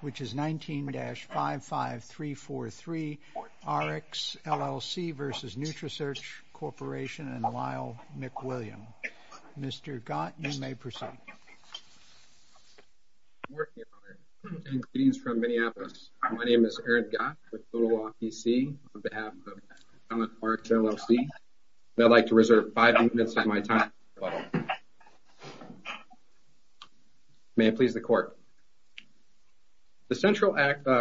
which is 19-55343 Rx, LLC v. Nutrisearch Corporation and Lyle McWilliam. Mr. Gott, you may proceed. Good morning, Your Honor. Greetings from Minneapolis. My name is Eric Gott with Total Law PC on behalf of Rx, LLC. I'd like to reserve five minutes of my time. The central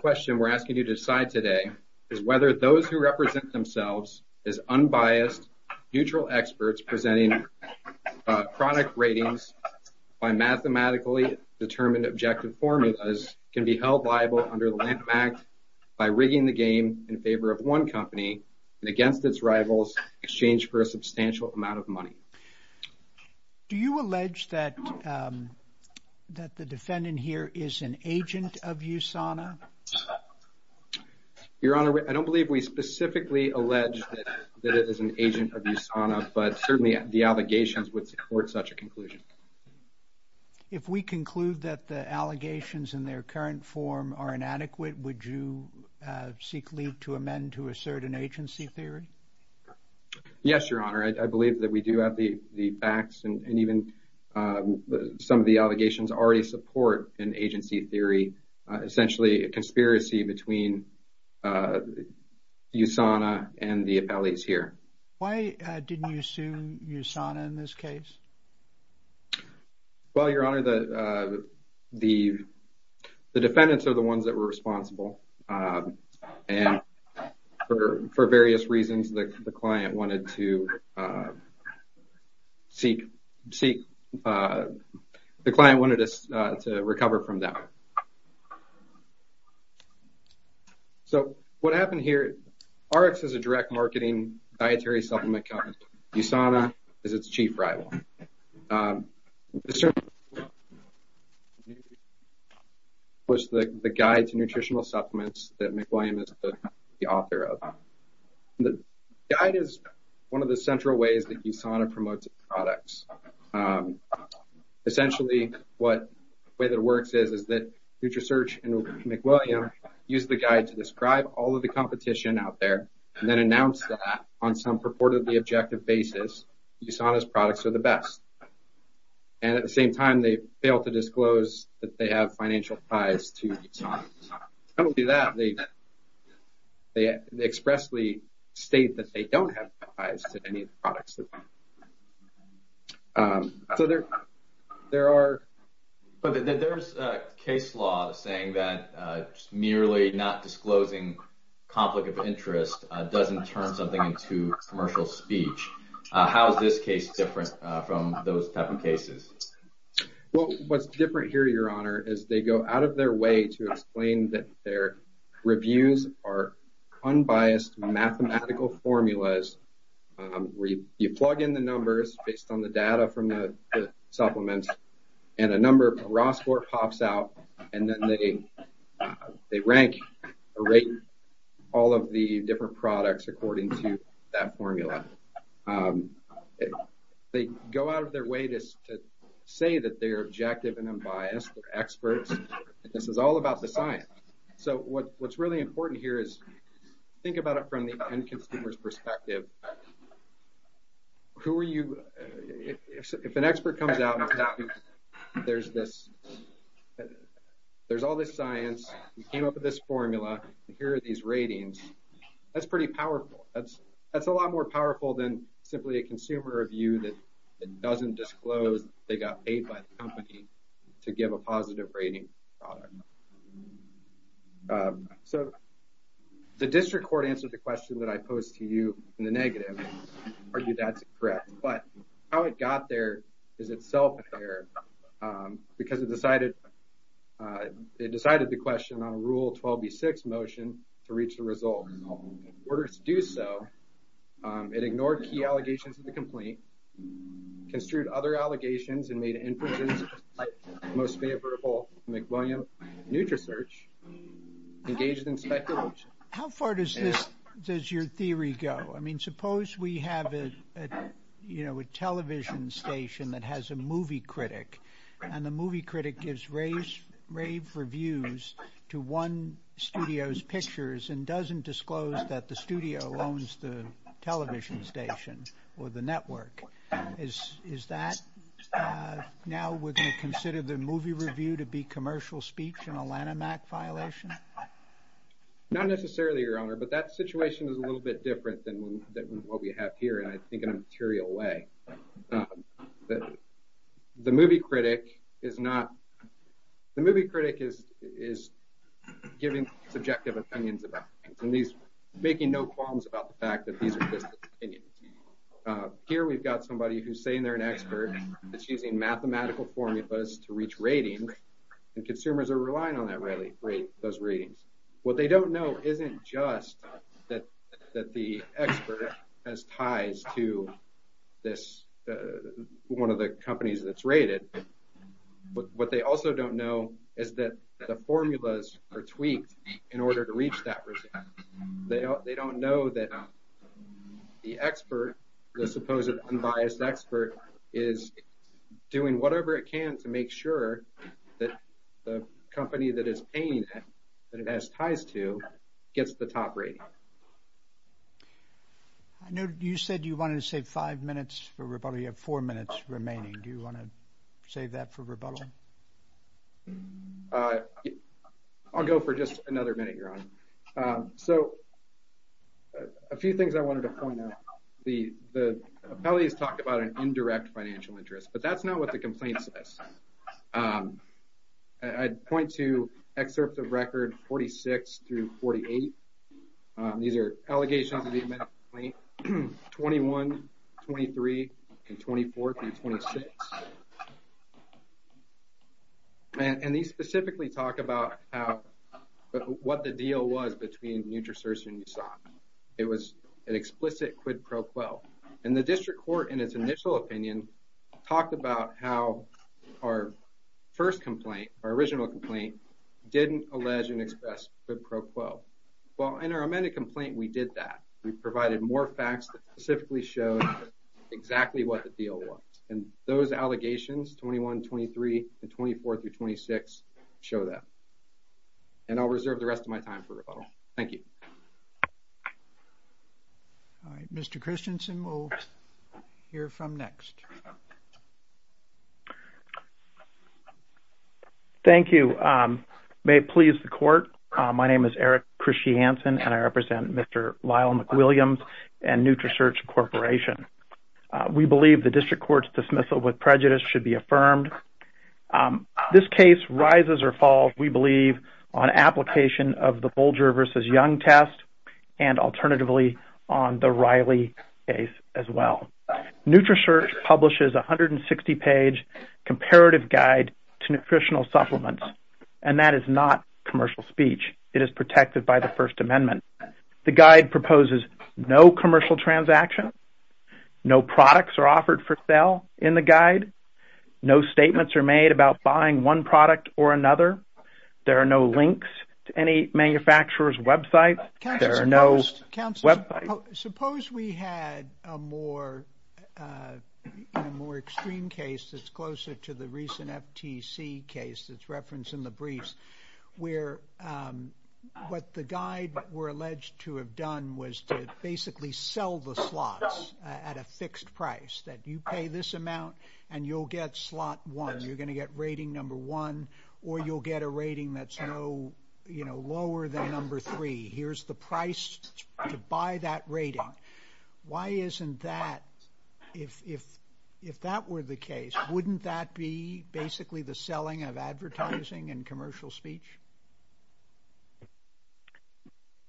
question we're asking you to decide today is whether those who represent themselves as unbiased, neutral experts presenting chronic ratings by mathematically determined objective formulas can be held liable under the Lanham Act by rigging the game in favor of one company and against its rivals in exchange for a substantial amount of money. Do you allege that the defendant here is an agent of USANA? Your Honor, I don't believe we specifically allege that it is an agent of USANA, but certainly the allegations would support such a conclusion. If we conclude that the allegations in their current form are inadequate, would you seek leave to amend to assert an agency theory? Yes, Your Honor. I believe that we do have the facts and even some of the allegations already support an agency theory, essentially a conspiracy between USANA and the appellees here. Why didn't you assume USANA in this case? Well, Your Honor, the defendants are the ones that were responsible, and for various reasons, the client wanted us to recover from that. So what happened here, RX is a direct marketing dietary supplement company. USANA is its chief rival. The guide is one of the central ways that USANA promotes its products. Essentially, the way that it works is that NutraSearch and McWilliam use the guide to describe all of the competition out there, and then announce that on some purportedly objective basis, USANA's products are the best. And at the same time, they fail to disclose that they have financial ties to USANA. Not only that, they expressly state that they don't have ties to any of the products. So there are... But there's a case law saying that merely not disclosing conflict of interest doesn't turn something into commercial speech. How is this case different from those type of cases? Well, what's different here, Your Honor, is they go out of their way to explain that their reviews are unbiased mathematical formulas where you plug in the numbers based on the data from the supplements, and a number of raw score pops out, and then they rank all of the different products according to that formula. They go out of their way to say that they're objective and unbiased, they're experts, and this is all about the science. So what's really important here is think about it from the end consumer's perspective. Who are you... If an expert comes out and there's this... There's all this science, you came up with this formula, here are these ratings, that's pretty powerful. That's a lot more powerful than simply a consumer review that doesn't disclose they got paid by the company to give a positive rating on a product. So the district court answered the question that I argue that's correct, but how it got there is itself an error because it decided the question on rule 12b6 motion to reach the result. In order to do so, it ignored key allegations of the complaint, construed other allegations, and made inferences like most favorable McWilliam NutriSearch, engaged in speculation. How far does your theory go? I we have a television station that has a movie critic, and the movie critic gives rave reviews to one studio's pictures and doesn't disclose that the studio owns the television station or the network. Is that... Now we're going to consider the movie review to be commercial speech and a Lanham Act violation? Not necessarily, Your Honor, but that situation is a little bit different than what we have here, and I think in a material way. The movie critic is giving subjective opinions about things and making no qualms about the fact that these are just opinions. Here we've got somebody who's saying they're an expert, that she's using mathematical formulas to reach ratings, and consumers are relying on those ratings. What they don't know isn't just that the expert has ties to one of the companies that's rated, but what they also don't know is that the formulas are tweaked in order to reach that result. They don't know that the expert, the supposed unbiased expert, is doing whatever it can to make sure that the ratings are met. I know you said you wanted to save five minutes for rebuttal. You have four minutes remaining. Do you want to save that for rebuttal? I'll go for just another minute, Your Honor. So a few things I wanted to point out. The appellate has talked about an indirect financial interest, but that's not what the complaint says. I'd point to excerpt of record 46 through 48. These are allegations of the amount of complaint, 21, 23, and 24 through 26. And these specifically talk about what the deal was between NutraSearch and USAT. It was an explicit quid pro quo. And the district court in its initial opinion talked about how our first complaint, our original complaint, didn't allege and express quid pro quo. Well, in our amended complaint, we did that. We provided more facts that specifically showed exactly what the deal was. And those allegations, 21, 23, and 24 through 26, show that. And I'll reserve the rest of my time for rebuttal. Thank you. All right, Mr. Christensen, we'll hear from next. Thank you. May it please the court. My name is Eric Christensen, and I represent Mr. Lyle McWilliams and NutraSearch Corporation. We believe the district court's dismissal with prejudice should be affirmed. This case rises or falls, we believe, on application of the Bolger versus Young test and alternatively on the Riley case as well. NutraSearch publishes a 160-page comparative guide to nutritional supplements, and that is not commercial speech. It is protected by the First Amendment. The guide proposes no commercial transaction. No products are offered for sale in the guide. No statements are made about buying one product or another. There are no links to any manufacturer's website. There are no websites. Suppose we had a more extreme case that's closer to the recent FTC case that's referenced in the briefs, where what the guide were alleged to have done was to basically sell the slots at a fixed price, that you pay this amount and you'll get slot one. You're going to get rating number one, or you'll get a rating that's lower than number three. Here's the price to buy that rating. Why isn't that, if that were the case, wouldn't that be basically the selling of advertising and commercial speech?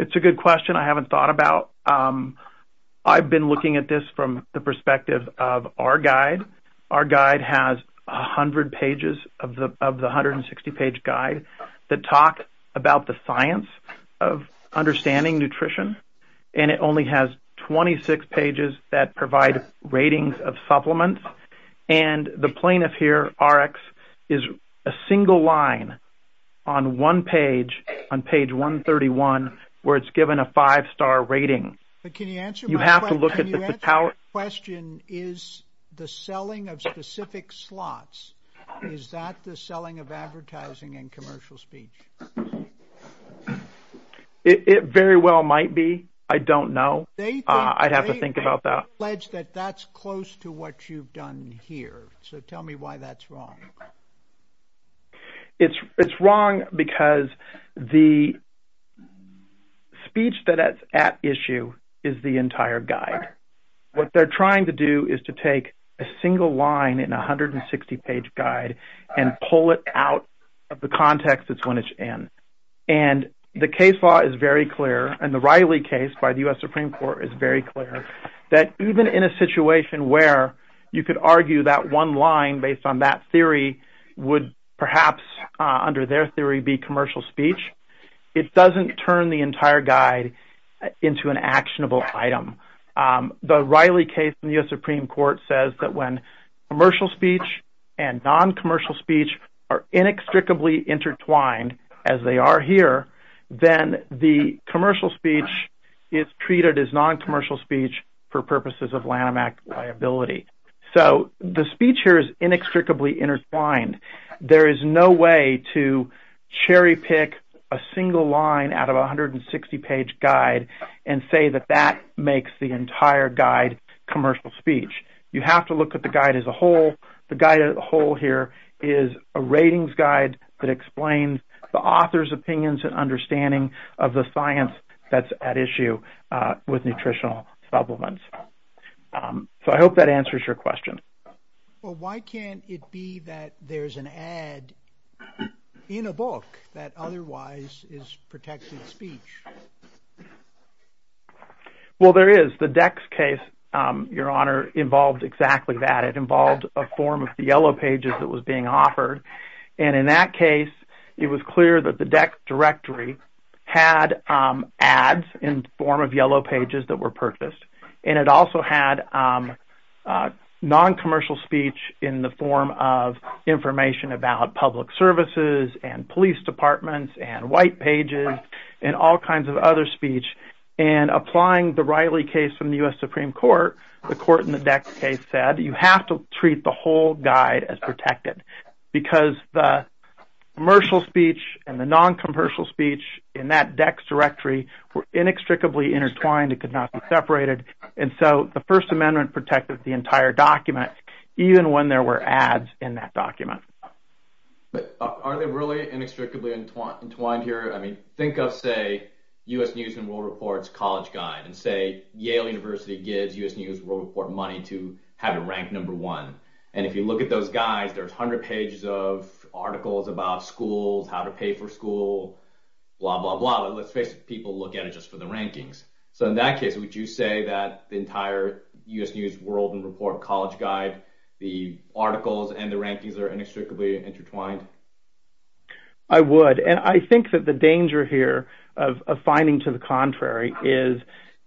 It's a good question. I haven't thought about. I've been looking at this from the 160-page guide that talks about the science of understanding nutrition, and it only has 26 pages that provide ratings of supplements. The plaintiff here, Rx, is a single line on one page, on page 131, where it's given a five-star rating. Can you answer my question? Is the selling of specific slots, is that the selling of advertising and commercial speech? It very well might be. I don't know. I'd have to think about that. They allege that that's close to what you've done here, so tell me why that's wrong. It's wrong because the speech that's at issue is the entire guide. What they're trying to do is to take a single line in a 160-page guide and pull it out of the context that's when it's in. The case law is very clear, and the Riley case by the U.S. Supreme Court is very clear, that even in a situation where you could argue that one line based on that theory would perhaps under their theory be commercial speech, it doesn't turn the entire guide into an actionable item. The Riley case in the U.S. Supreme Court says that when commercial speech and non-commercial speech are inextricably intertwined, as they are here, then the commercial speech is treated as non-commercial speech for purposes of Lanham Act liability. The speech here is inextricably intertwined. There is no way to cherry pick a single line out of a 160-page guide and say that makes the entire guide commercial speech. You have to look at the guide as a whole. The guide as a whole here is a ratings guide that explains the author's opinions and understanding of the science that's at issue with nutritional supplements. So, I hope that answers your question. Well, why can't it be that there's an ad in a book that otherwise is protected speech? Well, there is. The DECCS case, Your Honor, involved exactly that. It involved a form of the yellow pages that was being offered. And in that case, it was clear that the DECCS directory had ads in the form of yellow pages that were purchased. And it also had non-commercial speech in the form of information about public services and police departments and white pages and all that. So, following the Riley case from the U.S. Supreme Court, the court in the DECCS case said, you have to treat the whole guide as protected because the commercial speech and the non-commercial speech in that DECCS directory were inextricably intertwined. It could not be separated. And so, the First Amendment protected the entire document, even when there were ads in that document. But are they really inextricably entwined here? I mean, think of, say, U.S. News & World Report's college guide and say, Yale University gives U.S. News & World Report money to have it rank number one. And if you look at those guides, there's 100 pages of articles about schools, how to pay for school, blah, blah, blah. But let's face it, people look at it just for the rankings. So, in that case, would you say that the entire U.S. News & World Report college guide, the articles and the rankings are inextricably intertwined? I would. And I think that the danger here of finding to the contrary is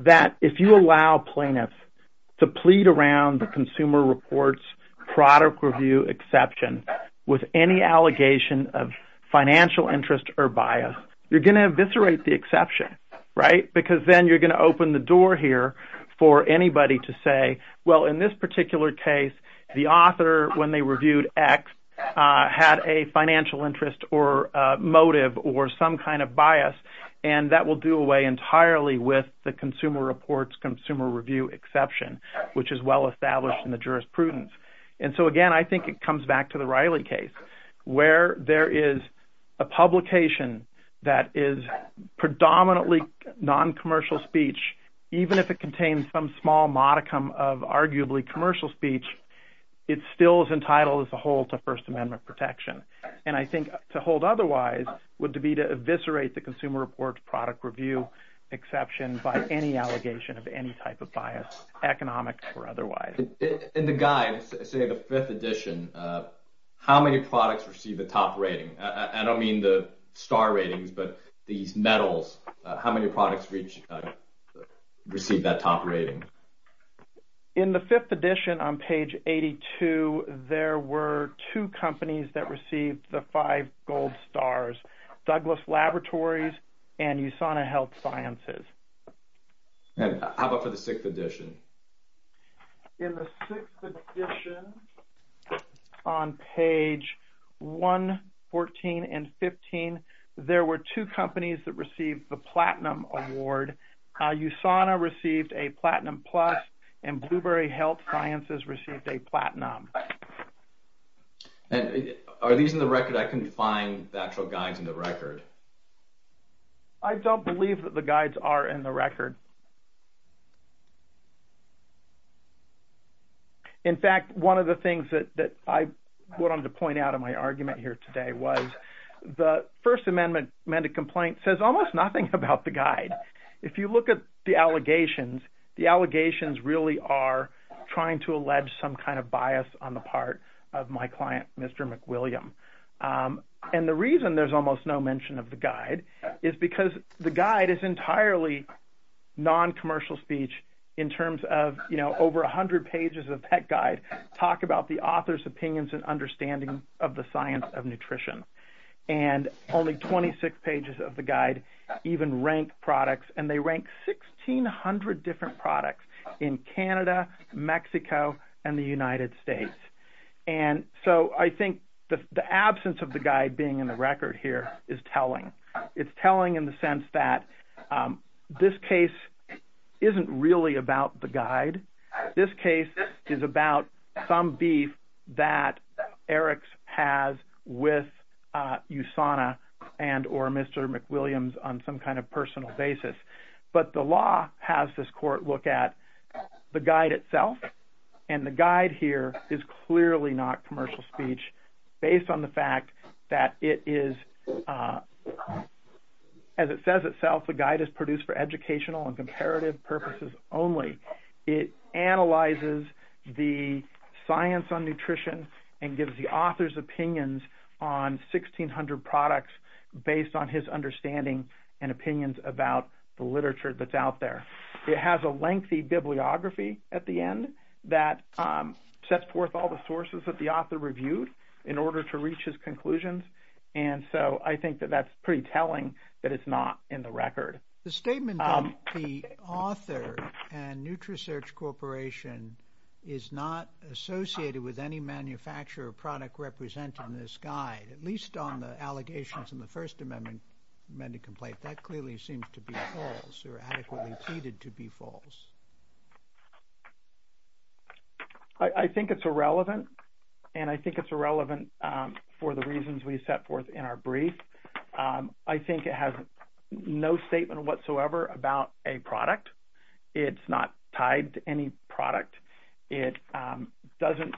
that if you allow plaintiffs to plead around the Consumer Reports product review exception with any allegation of financial interest or bias, you're going to eviscerate the exception, right? Because then you're going to open the door here for anybody to say, well, in this particular case, the author, when they reviewed X, had a financial interest or motive or some kind of bias, and that will do away entirely with the Consumer Reports Consumer Review exception, which is well-established in the jurisprudence. And so, again, I think it comes back to the Riley case, where there is a publication that is predominantly non-commercial speech, even if it contains some small modicum of arguably commercial speech, it still is entitled as a whole to First Amendment protection. And I think to hold otherwise would be to eviscerate the Consumer Reports product review exception by any allegation of any type of bias, economic or otherwise. In the guide, say the fifth edition, how many products received the top rating? I don't mean the star ratings, but these medals. How many products received that top rating? In the fifth edition, on page 82, there were two companies that received the five gold stars, Douglas Laboratories and USANA Health Sciences. And how about for the sixth edition? In the sixth edition, on page 1, 14, and 15, there were two companies that received the platinum award. USANA received a platinum plus, and Blueberry Health Sciences received a platinum. And are these in the record? I couldn't find the actual guides in the record. I don't believe that the guides are in the record. In fact, one of the things that I wanted to point out in my argument here today was the First Amendment Complaint says almost nothing about the guide. If you look at the allegations, the allegations really are trying to allege some kind of bias on the part of my client, Mr. McWilliam. And the reason there's almost no mention of the guide is because the guide is entirely non-commercial speech in terms of, you know, over 100 pages of the Science of Nutrition. And only 26 pages of the guide even rank products, and they rank 1,600 different products in Canada, Mexico, and the United States. And so I think the absence of the guide being in the record here is telling. It's telling in the sense that this case isn't really about the guide. This case is about some beef that Eric's has with USANA and or Mr. McWilliams on some kind of personal basis. But the law has this court look at the guide itself, and the guide here is clearly not commercial speech based on the fact that it is, as it says itself, the guide is produced for educational and comparative purposes only. It analyzes the science on nutrition and gives the author's opinions on 1,600 products based on his understanding and opinions about the literature that's out there. It has a lengthy bibliography at the end that sets forth all the sources that the author reviewed in order to reach his conclusions. And so I think that that's pretty telling that it's not in the record. The statement that the author and NutriSearch Corporation is not associated with any manufacturer or product represented in this guide, at least on the allegations in the First Amendment Complaint, that clearly seems to be false or adequately ceded to be false. I think it's irrelevant, and I think it's irrelevant for the reasons we set forth in our brief. I think it has no statement whatsoever about a product. It's not tied to any product. It doesn't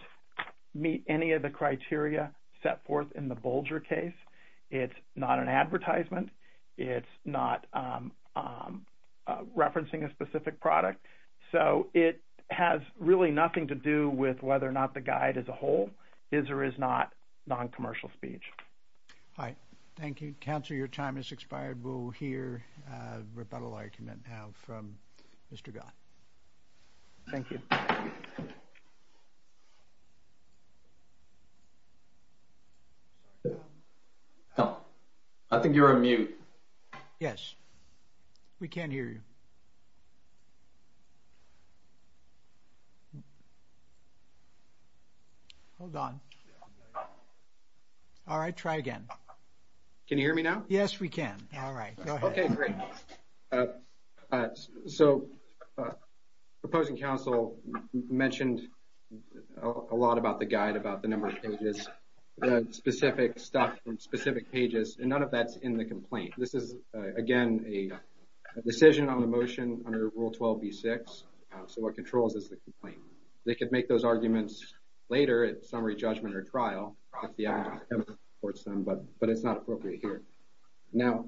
meet any of the criteria set forth in the Bolger case. It's not an advertisement. It's not referencing a specific product. So it has really nothing to do with whether or not the guide as a whole is or is not non-commercial speech. All right. Thank you. Counselor, your time has expired. We'll hear a rebuttal argument now from Mr. Gott. Thank you. I think you're on mute. Yes. We can't hear you. Hold on. All right. Try again. Can you hear me now? Yes, we can. All right. Okay, great. All right. So the opposing counsel mentioned a lot about the guide, about the number of pages, the specific stuff in specific pages, and none of that's in the complaint. This is, again, a decision on the motion under Rule 12b-6. So what controls is the complaint. They could make those arguments later at summary judgment or trial if the applicant supports them, but it's not appropriate here. Now,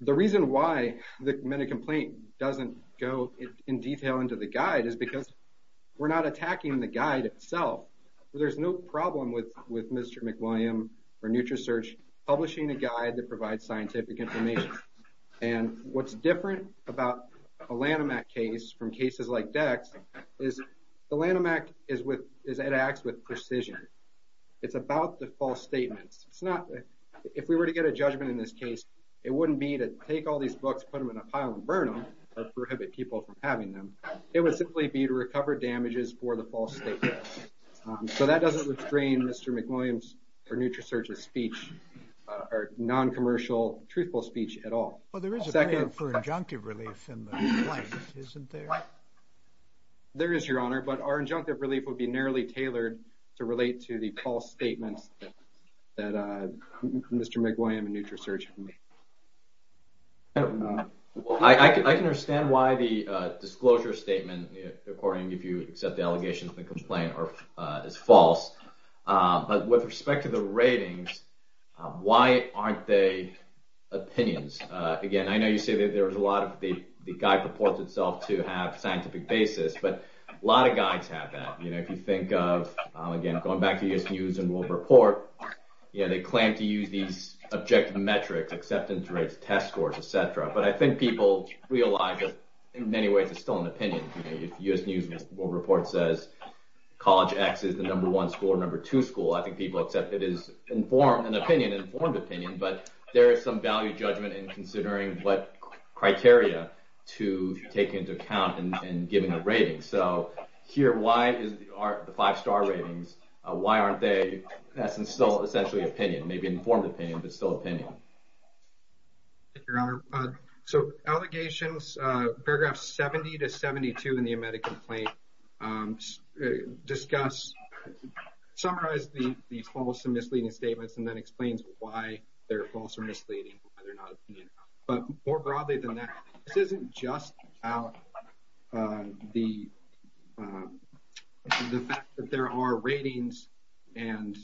the reason why the minute complaint doesn't go in detail into the guide is because we're not attacking the guide itself. There's no problem with Mr. McWilliam or NutriSearch publishing a guide that provides scientific information. And what's different about a Lanham Act case from cases like Dex is the Lanham Act is with, it acts with precision. It's about the false statements. It's not, if we were to get a judgment in this case, it wouldn't be to take all these books, put them in a pile and burn them, or prohibit people from having them. It would simply be to recover damages for the false statements. So that doesn't restrain Mr. McWilliam's or NutriSearch's speech or non-commercial truthful speech at all. Well, there is a benefit for injunctive relief in the complaint, isn't there? There is, Your Honor, but our injunctive relief would be narrowly to relate to the false statements that Mr. McWilliam and NutriSearch have made. I can understand why the disclosure statement, according, if you accept the allegation of the complaint, is false. But with respect to the ratings, why aren't they opinions? Again, I know you say that there's a lot of the guide purports itself to have scientific basis, but a lot of again, going back to U.S. News and World Report, they claim to use these objective metrics, acceptance rates, test scores, et cetera. But I think people realize that in many ways it's still an opinion. If U.S. News and World Report says College X is the number one school or number two school, I think people accept it as informed opinion, but there is some value judgment in considering what criteria to take into account in giving a rating. So here, why is the five-star ratings, why aren't they, that's still essentially opinion, maybe informed opinion, but still opinion? Your Honor, so allegations, paragraphs 70 to 72 in the amended complaint discuss, summarize the false and misleading statements and then explains why they're false or misleading. But more broadly than that, this isn't just about the fact that there are ratings and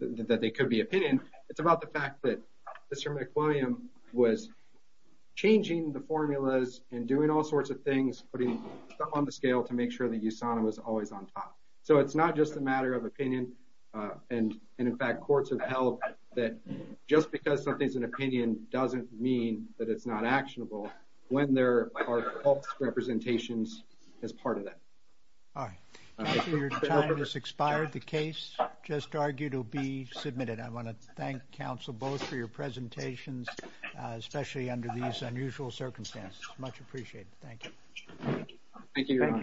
that they could be opinion, it's about the fact that Mr. McWilliam was changing the formulas and doing all sorts of things, putting stuff on the scale to make sure that USANA was always on top. So it's not just a matter of opinion and, in fact, courts have held that just because something's an opinion doesn't mean that it's not actionable when there are false representations as part of that. All right, your time has expired. The case just argued will be submitted. I want to thank counsel both for your presentations, especially under these unusual circumstances. Much appreciated. Thank you. Thank you.